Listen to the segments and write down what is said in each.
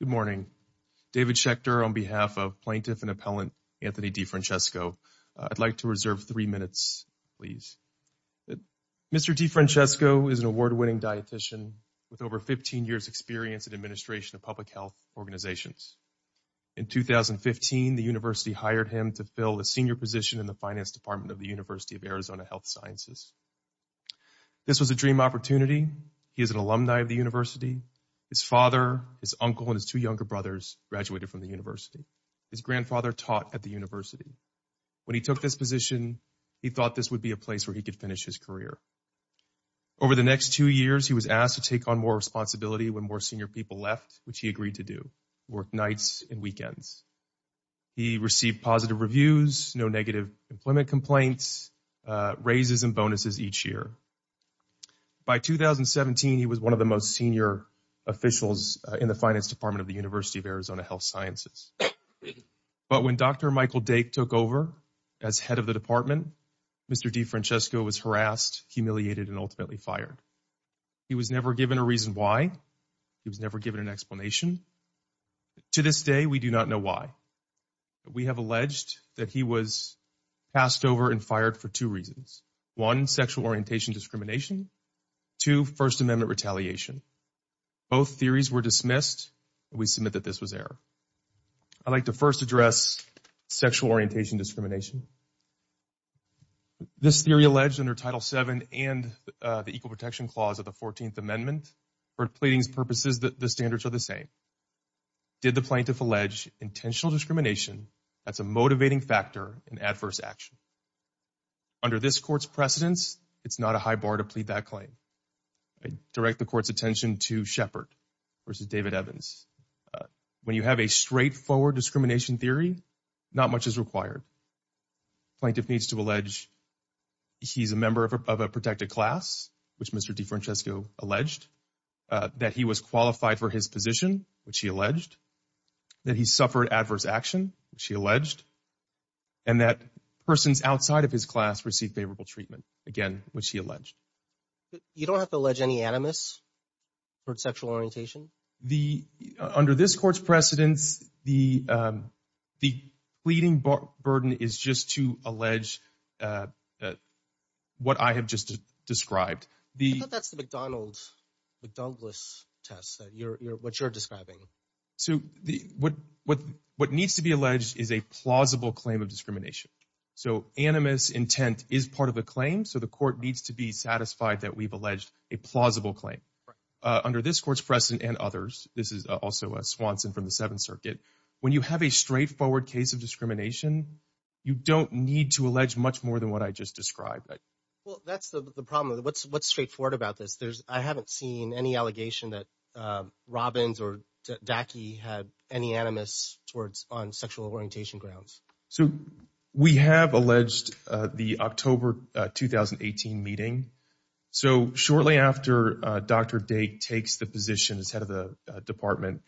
Good morning. David Schechter on behalf of plaintiff and appellant Anthony DeFrancesco. I'd like to reserve three minutes, please. Mr. DeFrancesco is an award-winning dietitian with over 15 years experience in administration of public health organizations. In 2015, the university hired him to fill a senior position in the finance department of the University of Arizona Health Sciences. This was a dream opportunity. He is an alumni of the university. His father, his uncle, and his two younger brothers graduated from the university. His grandfather taught at the university. When he took this position, he thought this would be a place where he could finish his career. Over the next two years, he was asked to take on more responsibility when more senior people left, which he agreed to do. He worked nights and weekends. He received positive reviews, no negative employment complaints, raises and bonuses each year. By 2017, he was one of the most senior officials in the finance department of the University of Arizona Health Sciences. But when Dr. Michael Dake took over as head of the department, Mr. DeFrancesco was harassed, humiliated, and ultimately fired. He was never given a reason why. He was never given an explanation. To this day, we do not know why. We have alleged that he was passed over and fired for two reasons. One, sexual orientation discrimination. Two, First Amendment retaliation. Both theories were dismissed. We submit that this was error. I'd like to first address sexual orientation discrimination. This theory alleged under Title VII and the Equal Protection Clause of the 14th Amendment, for pleading's purposes, the standards are the same. Did the plaintiff allege intentional discrimination as a motivating factor in adverse action? Under this court's precedence, it's not a high bar to plead that claim. I direct the court's attention to Shepard v. David Evans. When you have a straightforward discrimination theory, not much is required. Plaintiff needs to allege he's a member of a protected class, which Mr. DeFrancesco alleged, that he was qualified for his position, which he alleged, that he suffered adverse action, which he alleged, and that persons outside of his class received favorable treatment, again, which he alleged. You don't have to allege any animus for sexual orientation? Under this court's precedence, the pleading burden is just to allege what I have just described. I thought that's the McDonald's test, what you're describing. So what needs to be alleged is a plausible claim of discrimination. So animus intent is part of a claim, so the court needs to be satisfied that we've alleged a plausible claim. Under this court's precedent and others, this is also a Swanson from the Seventh Circuit, when you have a straightforward case of discrimination, you don't need to allege much more than what I just described. Well, that's the problem. What's straightforward about this? I haven't seen any allegation that Robbins or Dackey had any animus on sexual orientation grounds. So we have alleged the October 2018 meeting. So shortly after Dr. Dake takes the position as head of the department,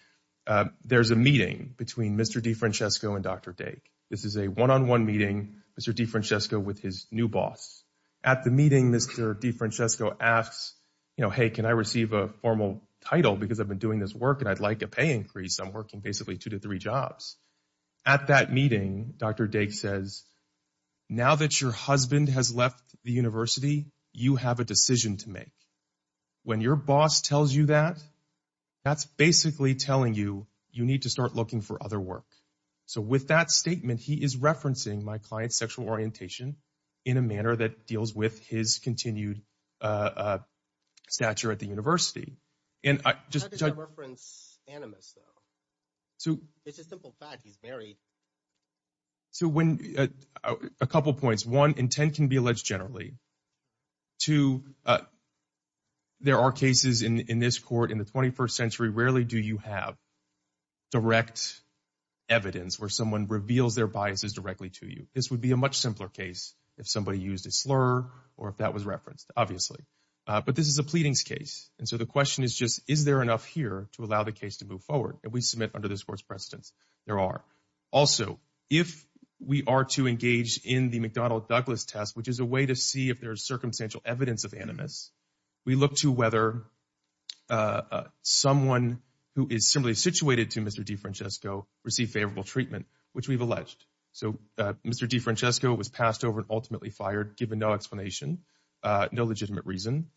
there's a meeting between Mr. DeFrancesco and Dr. Dake. This is a one-on-one meeting, Mr. DeFrancesco with his new boss. At the meeting, Mr. DeFrancesco asks, you know, hey, can I receive a formal title because I've been doing this work and I'd like a pay increase? I'm working basically two to three jobs. At that meeting, Dr. Dake says, now that your husband has left the university, you have a decision to make. When your boss tells you that, that's basically telling you you need to start looking for other work. So with that statement, he is referencing my client's sexual orientation in a manner that deals with his continued stature at the university. How does that reference animus, though? It's a simple fact, he's married. So a couple points. One, intent can be alleged generally. Two, there are cases in this court in the 21st century, rarely do you have direct evidence where someone reveals their biases directly to you. This would be a much simpler case if somebody used a slur or if that was referenced, obviously. But this is a pleadings case, and so the question is just, is there enough here to allow the case to move forward? And we submit under this court's precedence, there are. Also, if we are to engage in the McDonnell-Douglas test, which is a way to see if there is circumstantial evidence of animus, we look to whether someone who is similarly situated to Mr. DeFrancesco received favorable treatment, which we've alleged. So Mr. DeFrancesco was passed over and ultimately fired, given no explanation, no legitimate reason.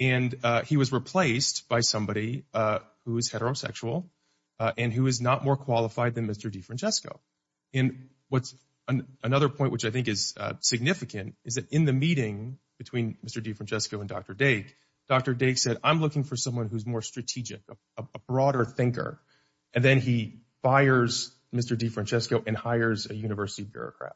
And he was replaced by somebody who is heterosexual and who is not more qualified than Mr. DeFrancesco. And another point which I think is significant is that in the meeting between Mr. DeFrancesco and Dr. Dake, Dr. Dake said, I'm looking for someone who's more strategic, a broader thinker. And then he fires Mr. DeFrancesco and hires a university bureaucrat.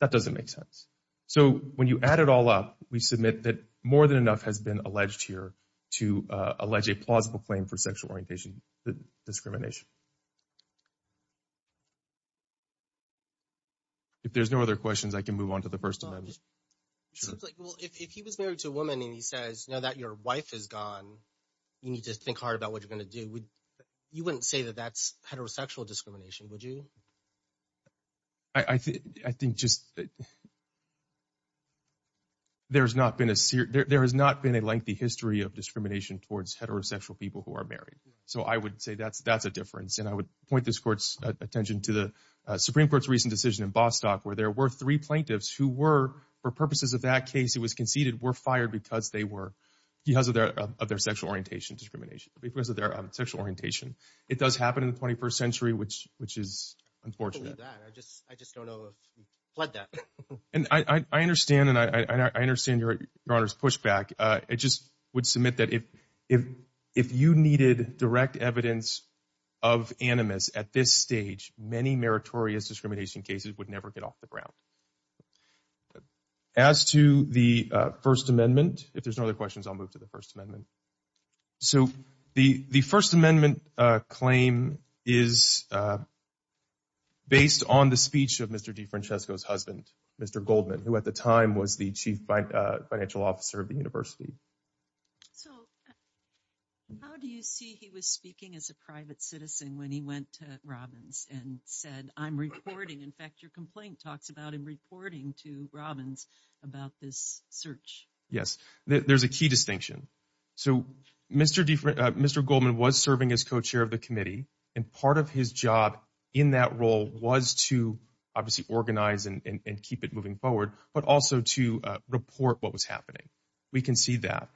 That doesn't make sense. So when you add it all up, we submit that more than enough has been alleged here to allege a plausible claim for sexual orientation discrimination. If there's no other questions, I can move on to the First Amendment. If he was married to a woman and he says, now that your wife is gone, you need to think hard about what you're going to do. You wouldn't say that that's heterosexual discrimination, would you? I think just that there has not been a lengthy history of discrimination towards heterosexual people who are married. So I would say that's a difference. And I would point this court's attention to the Supreme Court's recent decision in Bostock, where there were three plaintiffs who were, for purposes of that case, it was conceded, were fired because they were, because of their sexual orientation discrimination, because of their sexual orientation. It does happen in the 21st century, which is unfortunate. I just don't know if we fled that. And I understand, and I understand your Honor's pushback. I just would submit that if you needed direct evidence of animus at this stage, many meritorious discrimination cases would never get off the ground. As to the First Amendment, if there's no other questions, I'll move to the First Amendment. So the First Amendment claim is based on the speech of Mr. DeFrancesco's husband, Mr. Goldman, who at the time was the chief financial officer of the university. So how do you see he was speaking as a private citizen when he went to Robbins and said, I'm reporting. In fact, your complaint talks about him reporting to Robbins about this search. Yes. There's a key distinction. So Mr. Goldman was serving as co-chair of the committee, and part of his job in that role was to obviously organize and keep it moving forward, but also to report what was happening. We can see that.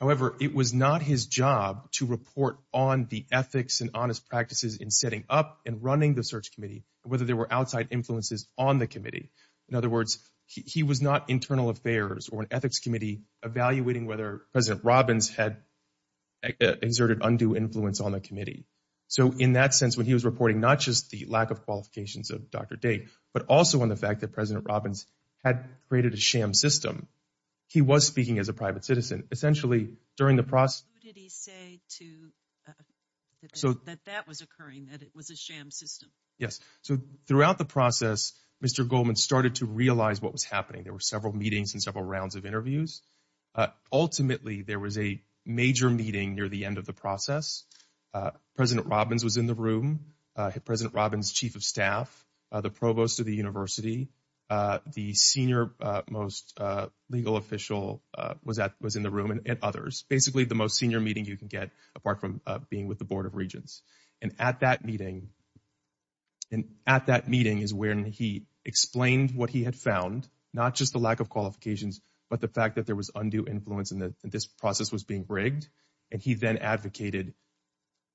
However, it was not his job to report on the ethics and honest practices in setting up and running the search committee, whether there were outside influences on the committee. In other words, he was not internal affairs or an ethics committee evaluating whether President Robbins had exerted undue influence on the committee. So in that sense, when he was reporting not just the lack of qualifications of Dr. Date, but also on the fact that President Robbins had created a sham system, he was speaking as a private citizen. Essentially, during the process. Who did he say that that was occurring, that it was a sham system? Yes. So throughout the process, Mr. Goldman started to realize what was happening. There were several meetings and several rounds of interviews. Ultimately, there was a major meeting near the end of the process. President Robbins was in the room. President Robbins, chief of staff, the provost of the university, the senior most legal official was in the room and others. Basically, the most senior meeting you can get, apart from being with the Board of Regents. And at that meeting is when he explained what he had found. Not just the lack of qualifications, but the fact that there was undue influence and that this process was being rigged. And he then advocated,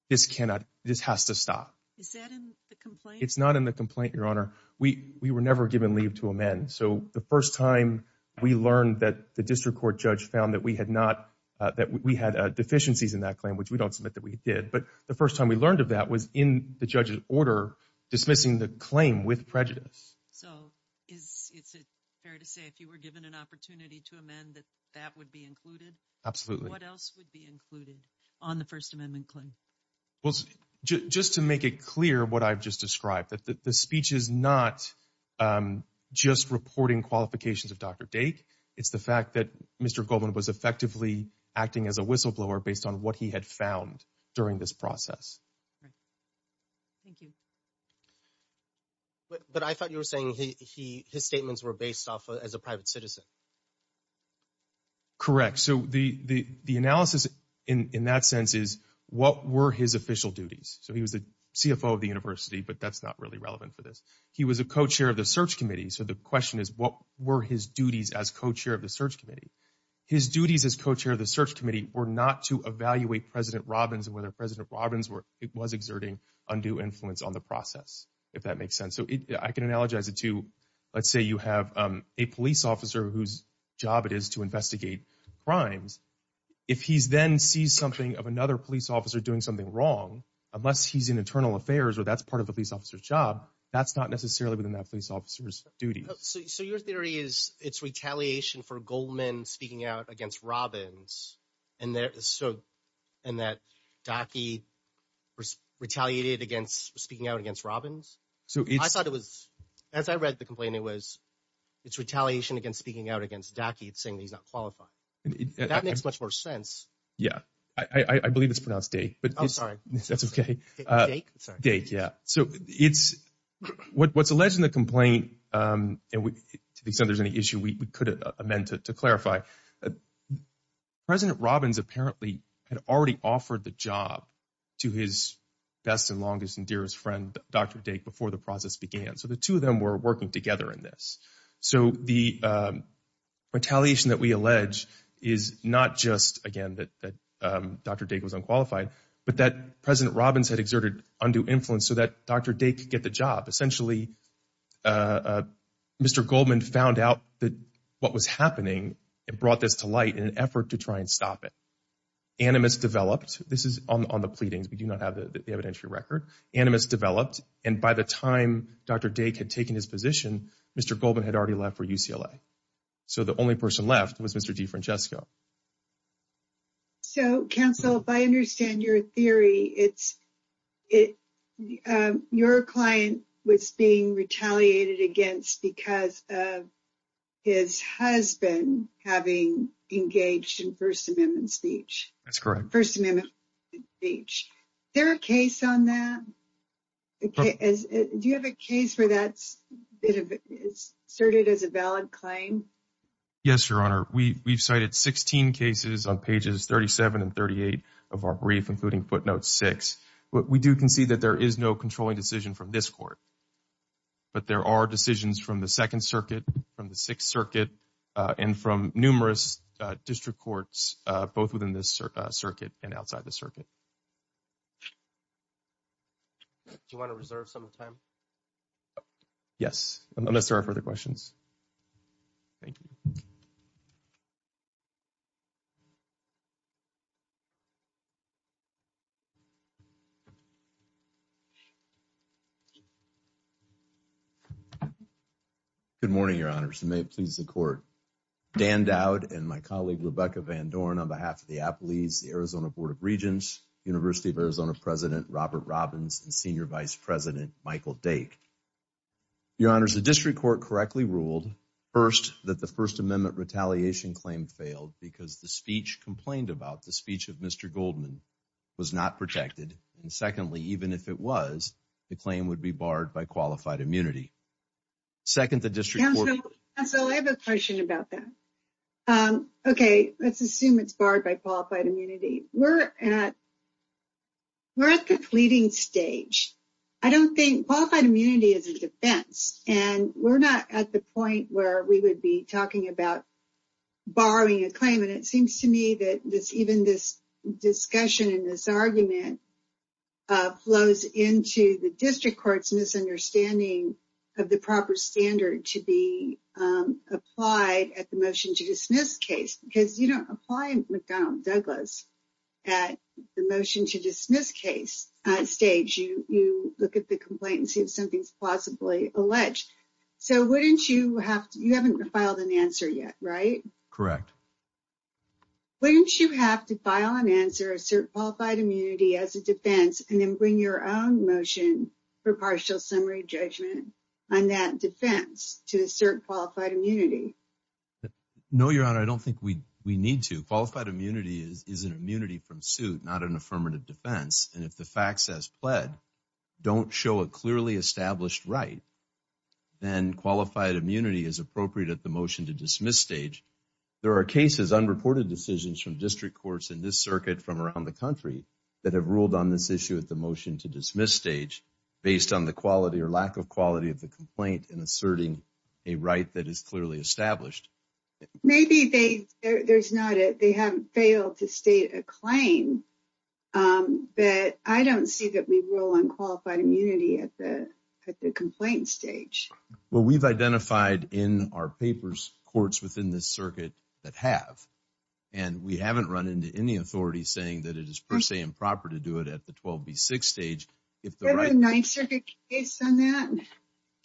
this cannot, this has to stop. Is that in the complaint? It's not in the complaint, Your Honor. We were never given leave to amend. So the first time we learned that the district court judge found that we had deficiencies in that claim, which we don't submit that we did. But the first time we learned of that was in the judge's order dismissing the claim with prejudice. So is it fair to say if you were given an opportunity to amend that that would be included? Absolutely. What else would be included on the First Amendment claim? Just to make it clear what I've just described, that the speech is not just reporting qualifications of Dr. Dake. It's the fact that Mr. Goldman was effectively acting as a whistleblower based on what he had found during this process. Thank you. But I thought you were saying his statements were based off as a private citizen. Correct. So the analysis in that sense is what were his official duties? So he was the CFO of the university, but that's not really relevant for this. He was a co-chair of the search committee. So the question is what were his duties as co-chair of the search committee? His duties as co-chair of the search committee were not to evaluate President Robbins and whether President Robbins was exerting undue influence on the process, if that makes sense. So I can analogize it to, let's say you have a police officer whose job it is to investigate crimes. If he then sees something of another police officer doing something wrong, unless he's in internal affairs or that's part of a police officer's job, that's not necessarily within that police officer's duty. So your theory is it's retaliation for Goldman speaking out against Robbins and that Daki retaliated against speaking out against Robbins? I thought it was, as I read the complaint, it was it's retaliation against speaking out against Daki saying that he's not qualified. That makes much more sense. Yeah. I believe it's pronounced Dake. Oh, sorry. That's okay. Dake? Dake, yeah. So what's alleged in the complaint, to the extent there's any issue we could amend to clarify, President Robbins apparently had already offered the job to his best and longest and dearest friend, Dr. Dake, before the process began. So the two of them were working together in this. So the retaliation that we allege is not just, again, that Dr. Dake was unqualified, but that President Robbins had exerted undue influence so that Dr. Dake could get the job. Essentially, Mr. Goldman found out what was happening and brought this to light in an effort to try and stop it. Animus developed. This is on the pleadings. We do not have the evidentiary record. Animus developed. And by the time Dr. Dake had taken his position, Mr. Goldman had already left for UCLA. So the only person left was Mr. DeFrancesco. So, Counsel, if I understand your theory, your client was being retaliated against because of his husband having engaged in First Amendment speech. That's correct. First Amendment speech. Is there a case on that? Do you have a case where that's asserted as a valid claim? Yes, Your Honor. We've cited 16 cases on pages 37 and 38 of our brief, including footnote six. We do concede that there is no controlling decision from this court, but there are decisions from the Second Circuit, from the Sixth Circuit, and from numerous district courts, both within this circuit and outside the circuit. Do you want to reserve some time? Yes, unless there are further questions. Thank you. Good morning, Your Honors. And may it please the Court, Dan Dowd and my colleague, Rebecca Van Dorn, on behalf of the Appellees, the Arizona Board of Regents, University of Arizona President Robert Robbins, and Senior Vice President Michael Dake. Your Honors, the district court correctly ruled, first, that the First Amendment retaliation claim failed because the speech complained about, the speech of Mr. Goldman, was not protected. And secondly, even if it was, the claim would be barred by qualified immunity. Second, the district court. Counsel, I have a question about that. Okay, let's assume it's barred by qualified immunity. We're at the pleading stage. I don't think, qualified immunity is a defense. And we're not at the point where we would be talking about borrowing a claim. And it seems to me that even this discussion and this argument flows into the district court's misunderstanding of the proper standard to be applied at the motion to dismiss case. Because you don't apply McDonald-Douglas at the motion to dismiss case stage. You look at the complaint and see if something's plausibly alleged. So wouldn't you have to, you haven't filed an answer yet, right? Correct. Wouldn't you have to file an answer, assert qualified immunity as a defense, and then bring your own motion for partial summary judgment on that defense to assert qualified immunity? No, Your Honor, I don't think we need to. Qualified immunity is an immunity from suit, not an affirmative defense. And if the facts as pled don't show a clearly established right, then qualified immunity is appropriate at the motion to dismiss stage. There are cases, unreported decisions from district courts and this circuit from around the country that have ruled on this issue at the motion to dismiss stage based on the quality or lack of quality of the complaint and asserting a right that is clearly established. Maybe they haven't failed to state a claim, but I don't see that we rule on qualified immunity at the complaint stage. Well, we've identified in our papers courts within this circuit that have, and we haven't run into any authorities saying that it is per se improper to do it at the 12B6 stage. Is there a Ninth Circuit case on that?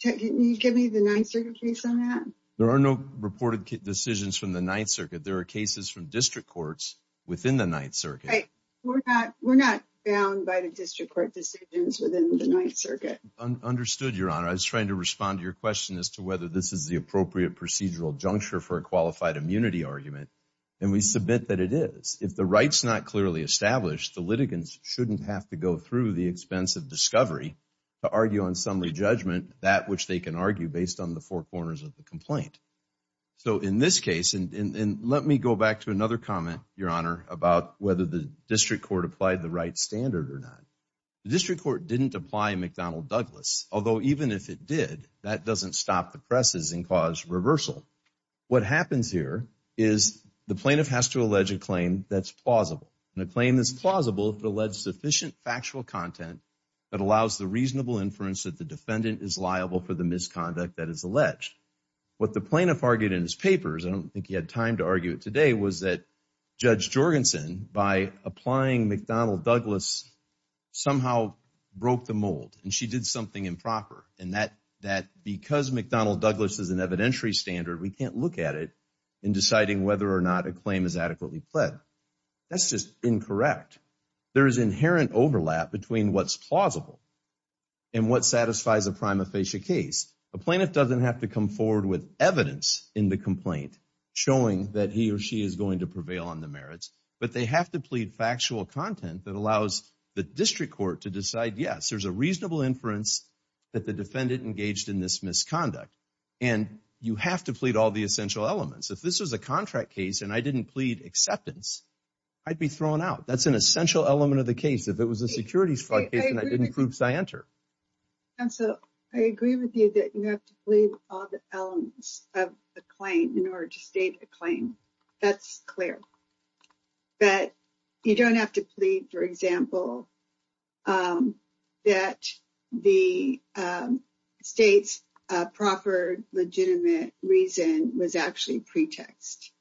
Can you give me the Ninth Circuit case on that? There are no reported decisions from the Ninth Circuit. There are cases from district courts within the Ninth Circuit. We're not bound by the district court decisions within the Ninth Circuit. Understood, Your Honor. I was trying to respond to your question as to whether this is the appropriate procedural juncture for a qualified immunity argument. And we submit that it is. If the right's not clearly established, the litigants shouldn't have to go through the expense of discovery to argue on summary judgment, that which they can argue based on the four corners of the complaint. So in this case, and let me go back to another comment, Your Honor, about whether the district court applied the right standard or not. The district court didn't apply McDonnell Douglas, although even if it did, that doesn't stop the presses and cause reversal. What happens here is the plaintiff has to allege a claim that's plausible. And a claim that's plausible if it alleges sufficient factual content that allows the reasonable inference that the defendant is liable for the misconduct that is alleged. What the plaintiff argued in his papers, I don't think he had time to argue it today, was that Judge Jorgensen, by applying McDonnell Douglas, somehow broke the mold and she did something improper. And that because McDonnell Douglas is an evidentiary standard, we can't look at it in deciding whether or not a claim is adequately pled. That's just incorrect. There is inherent overlap between what's plausible and what satisfies a prima facie case. A plaintiff doesn't have to come forward with evidence in the complaint showing that he or she is going to prevail on the merits, but they have to plead factual content that allows the district court to decide, yes, there's a reasonable inference that the defendant engaged in this misconduct. And you have to plead all the essential elements. If this was a contract case and I didn't plead acceptance, I'd be thrown out. That's an essential element of the case. If it was a securities fraud case and I didn't prove scienter. And so I agree with you that you have to plead all the elements of the claim in order to state a claim. That's clear. But you don't have to plead, for example, that the state's proper legitimate reason was actually pretext.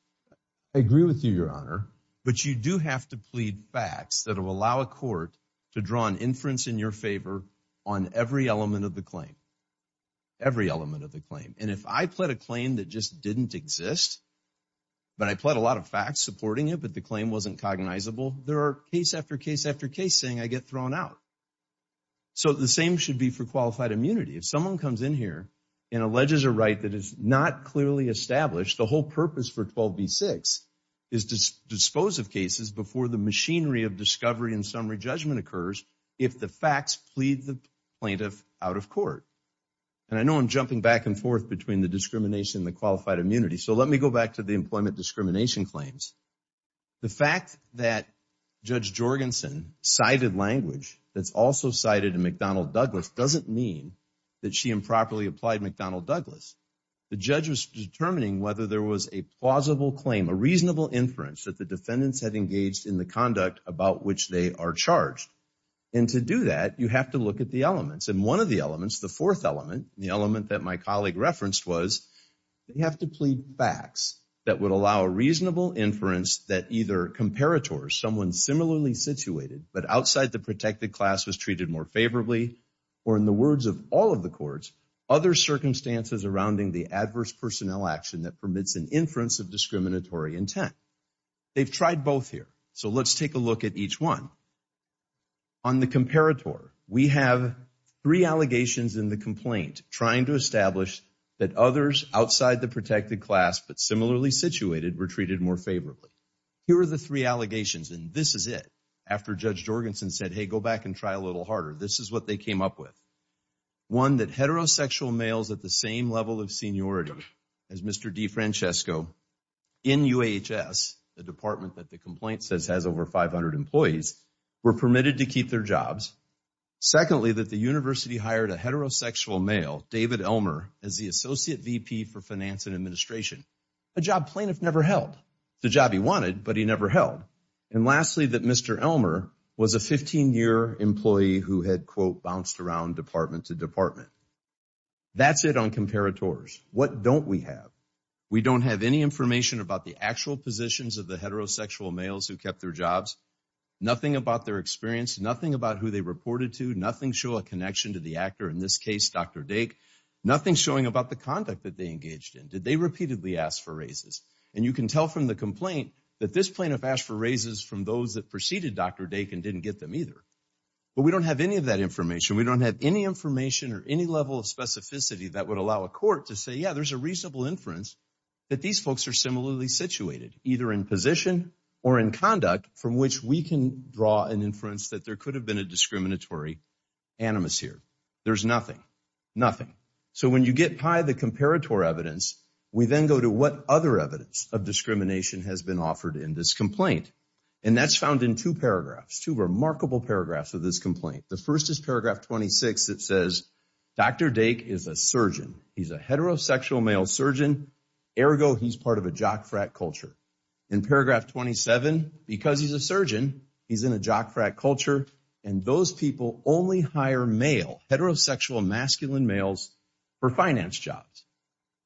I agree with you, Your Honor. But you do have to plead facts that will allow a court to draw an inference in your favor on every element of the claim. Every element of the claim. And if I pled a claim that just didn't exist, but I pled a lot of facts supporting it, but the claim wasn't cognizable, there are case after case after case saying I get thrown out. So the same should be for qualified immunity. If someone comes in here and alleges a right that is not clearly established, the whole purpose for 12b-6 is to dispose of cases before the machinery of discovery and summary judgment occurs if the facts plead the plaintiff out of court. And I know I'm jumping back and forth between the discrimination and the qualified immunity, so let me go back to the employment discrimination claims. The fact that Judge Jorgensen cited language that's also cited in McDonnell Douglas doesn't mean that she improperly applied McDonnell Douglas. The judge was determining whether there was a plausible claim, a reasonable inference, that the defendants had engaged in the conduct about which they are charged. And to do that, you have to look at the elements. And one of the elements, the fourth element, the element that my colleague referenced was they have to plead facts that would allow a reasonable inference that either comparators, someone similarly situated but outside the protected class was treated more favorably, or in the words of all of the courts, other circumstances around the adverse personnel action that permits an inference of discriminatory intent. They've tried both here, so let's take a look at each one. On the comparator, we have three allegations in the complaint trying to establish that others outside the protected class but similarly situated were treated more favorably. Here are the three allegations, and this is it. After Judge Jorgensen said, hey, go back and try a little harder, this is what they came up with. One, that heterosexual males at the same level of seniority as Mr. DeFrancesco in UAHS, the department that the complaint says has over 500 employees, were permitted to keep their jobs. Secondly, that the university hired a heterosexual male, David Elmer, as the associate VP for finance and administration, a job plaintiff never held. It's a job he wanted, but he never held. And lastly, that Mr. Elmer was a 15-year employee who had, quote, bounced around department to department. That's it on comparators. What don't we have? We don't have any information about the actual positions of the heterosexual males who kept their jobs, nothing about their experience, nothing about who they reported to, nothing showing a connection to the actor, in this case, Dr. Dake, nothing showing about the conduct that they engaged in. Did they repeatedly ask for raises? And you can tell from the complaint that this plaintiff asked for raises from those that preceded Dr. Dake and didn't get them either. But we don't have any of that information. We don't have any information or any level of specificity that would allow a court to say, yeah, there's a reasonable inference that these folks are similarly situated either in position or in conduct from which we can draw an inference that there could have been a discriminatory animus here. There's nothing, nothing. So when you get by the comparator evidence, we then go to what other evidence of discrimination has been offered in this complaint. And that's found in two paragraphs, two remarkable paragraphs of this complaint. The first is paragraph 26 that says, Dr. Dake is a surgeon. He's a heterosexual male surgeon. Ergo, he's part of a jock frat culture. In paragraph 27, because he's a surgeon, he's in a jock frat culture. And those people only hire male, heterosexual masculine males for finance jobs.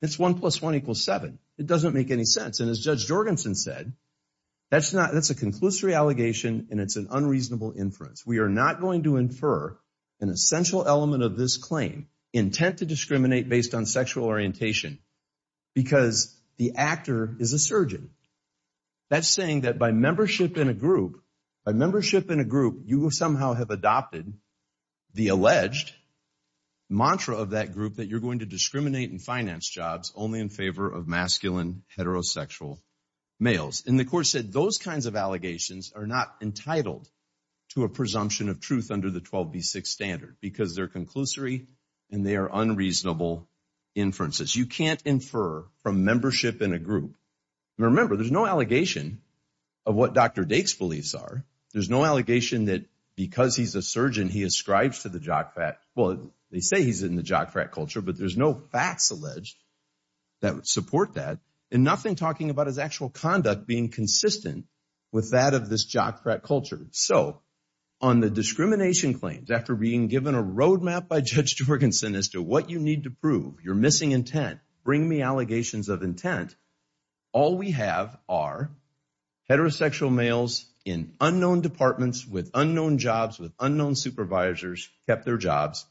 It's one plus one equals seven. It doesn't make any sense. And as Judge Jorgensen said, that's a conclusory allegation and it's an unreasonable inference. We are not going to infer an essential element of this claim, intent to discriminate based on sexual orientation, because the actor is a surgeon. That's saying that by membership in a group, by membership in a group, you somehow have adopted the alleged mantra of that group that you're going to discriminate in finance jobs only in favor of masculine heterosexual males. And the court said those kinds of allegations are not entitled to a presumption of truth under the 12B6 standard because they're conclusory and they are unreasonable inferences. You can't infer from membership in a group. Remember, there's no allegation of what Dr. Dake's beliefs are. There's no allegation that because he's a surgeon, he ascribes to the jock frat. Well, they say he's in the jock frat culture, but there's no facts alleged that would support that and nothing talking about his actual conduct being consistent with that of this jock frat culture. So, on the discrimination claims, after being given a roadmap by Judge Jorgensen as to what you need to prove, your missing intent, bring me allegations of intent, all we have are heterosexual males in unknown departments, with unknown jobs, with unknown supervisors, kept their jobs,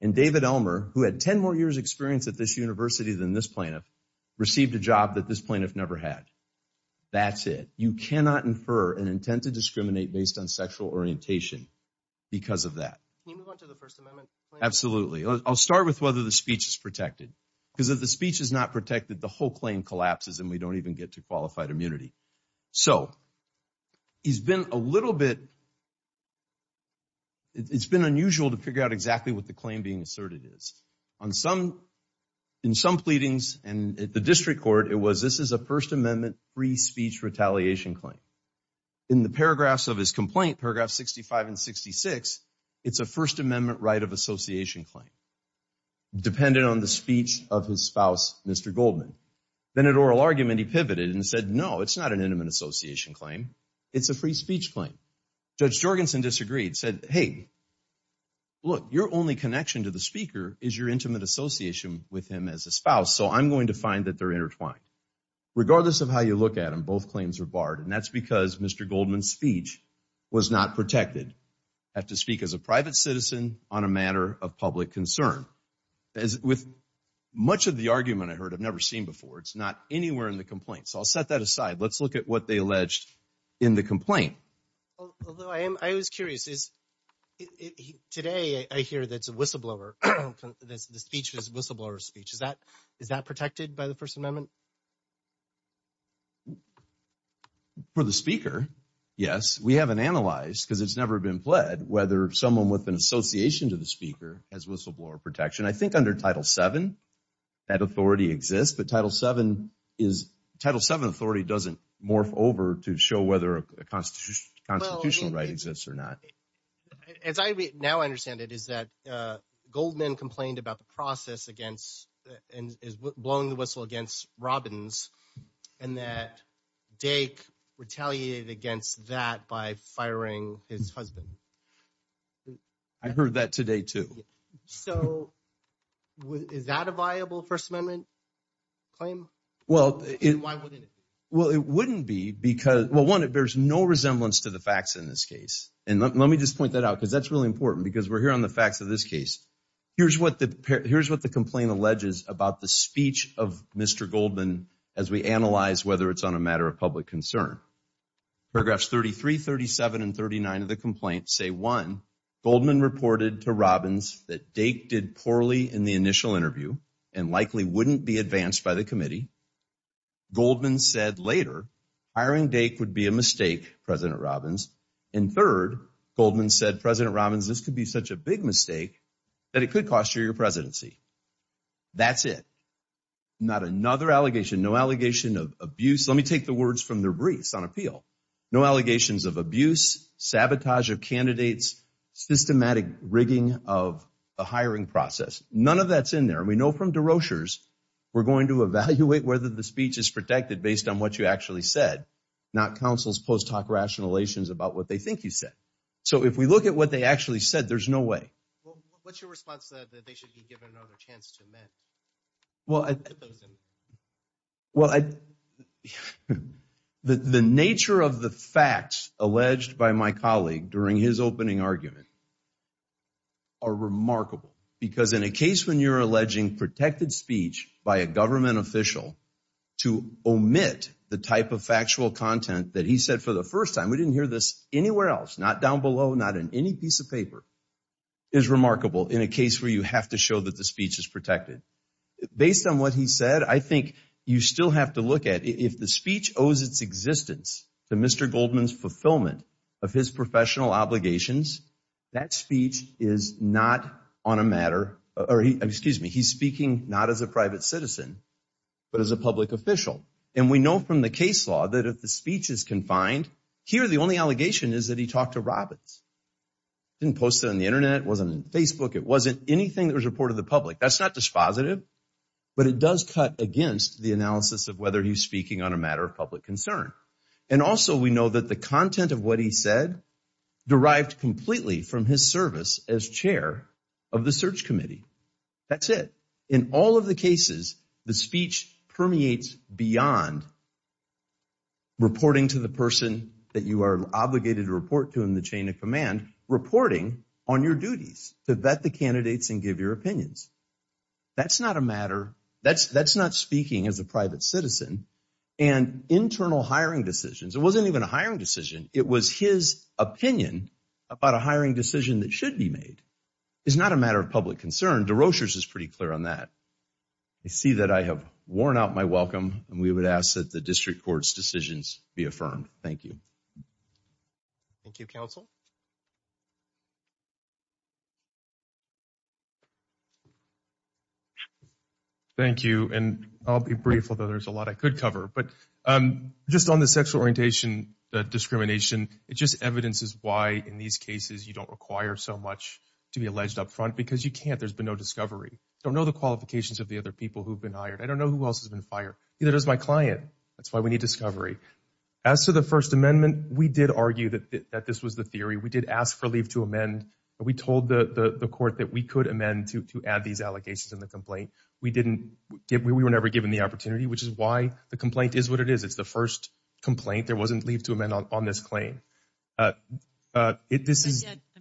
and David Elmer, who had 10 more years experience at this university than this plaintiff, received a job that this plaintiff never had. That's it. You cannot infer an intent to discriminate based on sexual orientation because of that. Can you move on to the First Amendment claim? Absolutely. I'll start with whether the speech is protected. Because if the speech is not protected, the whole claim collapses and we don't even get to qualified immunity. So, it's been a little bit unusual to figure out exactly what the claim being asserted is. In some pleadings and at the district court, it was, this is a First Amendment free speech retaliation claim. In the paragraphs of his complaint, paragraph 65 and 66, it's a First Amendment right of association claim, dependent on the speech of his spouse, Mr. Goldman. Then at oral argument, he pivoted and said, no, it's not an intimate association claim. It's a free speech claim. Judge Jorgensen disagreed, said, hey, look, your only connection to the speaker is your intimate association with him as a spouse. So, I'm going to find that they're intertwined. Regardless of how you look at them, both claims are barred. And that's because Mr. Goldman's speech was not protected. I have to speak as a private citizen on a matter of public concern. With much of the argument I heard, I've never seen before, it's not anywhere in the complaint. So, I'll set that aside. Let's look at what they alleged in the complaint. I was curious. Today, I hear that it's a whistleblower. The speech was a whistleblower speech. Is that protected by the First Amendment? For the speaker, yes. We haven't analyzed, because it's never been pled, whether someone with an association to the speaker has whistleblower protection. I think under Title VII, that authority exists. But Title VII authority doesn't morph over to show whether a constitutional right exists or not. As I now understand it is that Goldman complained about the process against and is blowing the whistle against Robbins. And that Dake retaliated against that by firing his husband. I heard that today, too. So, is that a viable First Amendment? Well, it wouldn't be because, well, one, there's no resemblance to the facts in this case. And let me just point that out because that's really important because we're here on the facts of this case. Here's what the complaint alleges about the speech of Mr. Goldman as we analyze whether it's on a matter of public concern. Paragraphs 33, 37, and 39 of the complaint say, one, Goldman reported to Robbins that Dake did poorly in the initial interview and likely wouldn't be advanced by the committee. Goldman said later hiring Dake would be a mistake, President Robbins. And third, Goldman said, President Robbins, this could be such a big mistake that it could cost you your presidency. That's it. Not another allegation, no allegation of abuse. Let me take the words from their briefs on appeal. No allegations of abuse, sabotage of candidates, systematic rigging of the hiring process. None of that's in there. And we know from de Rochers we're going to evaluate whether the speech is protected based on what you actually said, not counsel's post hoc rationalations about what they think you said. So if we look at what they actually said, there's no way. What's your response to that they should be given another chance to amend? Well, the nature of the facts alleged by my colleague during his opening argument are remarkable because in a case when you're alleging protected speech by a government official to omit the type of factual content that he said for the first time, we didn't hear this anywhere else, not down below, not in any piece of paper, is remarkable in a case where you have to show that the speech is protected. Based on what he said, I think you still have to look at if the speech owes its existence to Mr. Goldman's fulfillment of his professional obligations, that speech is not on a matter, or excuse me, he's speaking not as a private citizen but as a public official. And we know from the case law that if the speech is confined, here the only allegation is that he talked to Robbins. He didn't post it on the Internet, it wasn't on Facebook, it wasn't anything that was reported to the public. That's not dispositive, but it does cut against the analysis of whether he's speaking on a matter of public concern. And also we know that the content of what he said derived completely from his service as chair of the search committee. That's it. In all of the cases, the speech permeates beyond reporting to the person that you are obligated to report to in the chain of command, reporting on your duties to vet the candidates and give your opinions. That's not a matter, that's not speaking as a private citizen. And internal hiring decisions, it wasn't even a hiring decision, it was his opinion about a hiring decision that should be made. It's not a matter of public concern, DeRochers is pretty clear on that. I see that I have worn out my welcome and we would ask that the district court's decisions be affirmed. Thank you. Thank you, counsel. Thank you, and I'll be brief, although there's a lot I could cover. But just on the sexual orientation discrimination, it just evidences why in these cases you don't require so much to be alleged up front because you can't, there's been no discovery. Don't know the qualifications of the other people who've been hired. I don't know who else has been fired. Neither does my client. That's why we need discovery. As to the First Amendment, we did argue that this was the theory. We did ask for leave to amend, but we told the court that we could amend to add these allegations in the complaint. We didn't, we were never given the opportunity, which is why the complaint is what it is. It's the first complaint, there wasn't leave to amend on this claim. I'm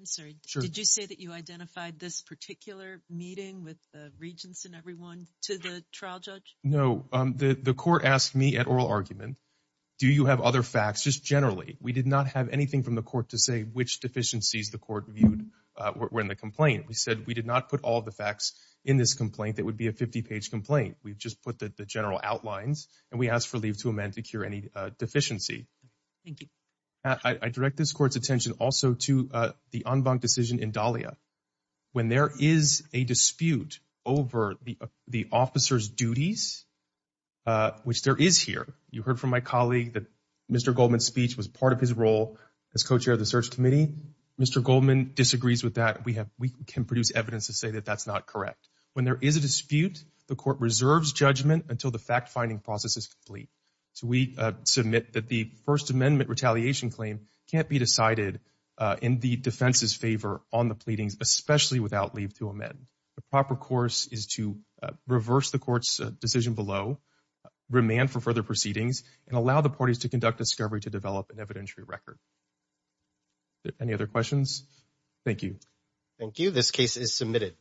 sorry, did you say that you identified this particular meeting with the regents and everyone to the trial judge? No, the court asked me at oral argument, do you have other facts? Just generally, we did not have anything from the court to say which deficiencies the court viewed were in the complaint. We said we did not put all the facts in this complaint that would be a 50 page complaint. We've just put the general outlines and we asked for leave to amend to cure any deficiency. Thank you. I direct this court's attention also to the en banc decision in Dahlia. When there is a dispute over the officer's duties, which there is here, you heard from my colleague that Mr. Goldman's speech was part of his role as co-chair of the search committee. Mr. Goldman disagrees with that. We have, we can produce evidence to say that that's not correct. When there is a dispute, the court reserves judgment until the fact-finding process is complete. We submit that the First Amendment retaliation claim can't be decided in the defense's favor on the pleadings, especially without leave to amend. The proper course is to reverse the court's decision below, remand for further proceedings, and allow the parties to conduct discovery to develop an evidentiary record. Any other questions? Thank you. Thank you. This case is submitted.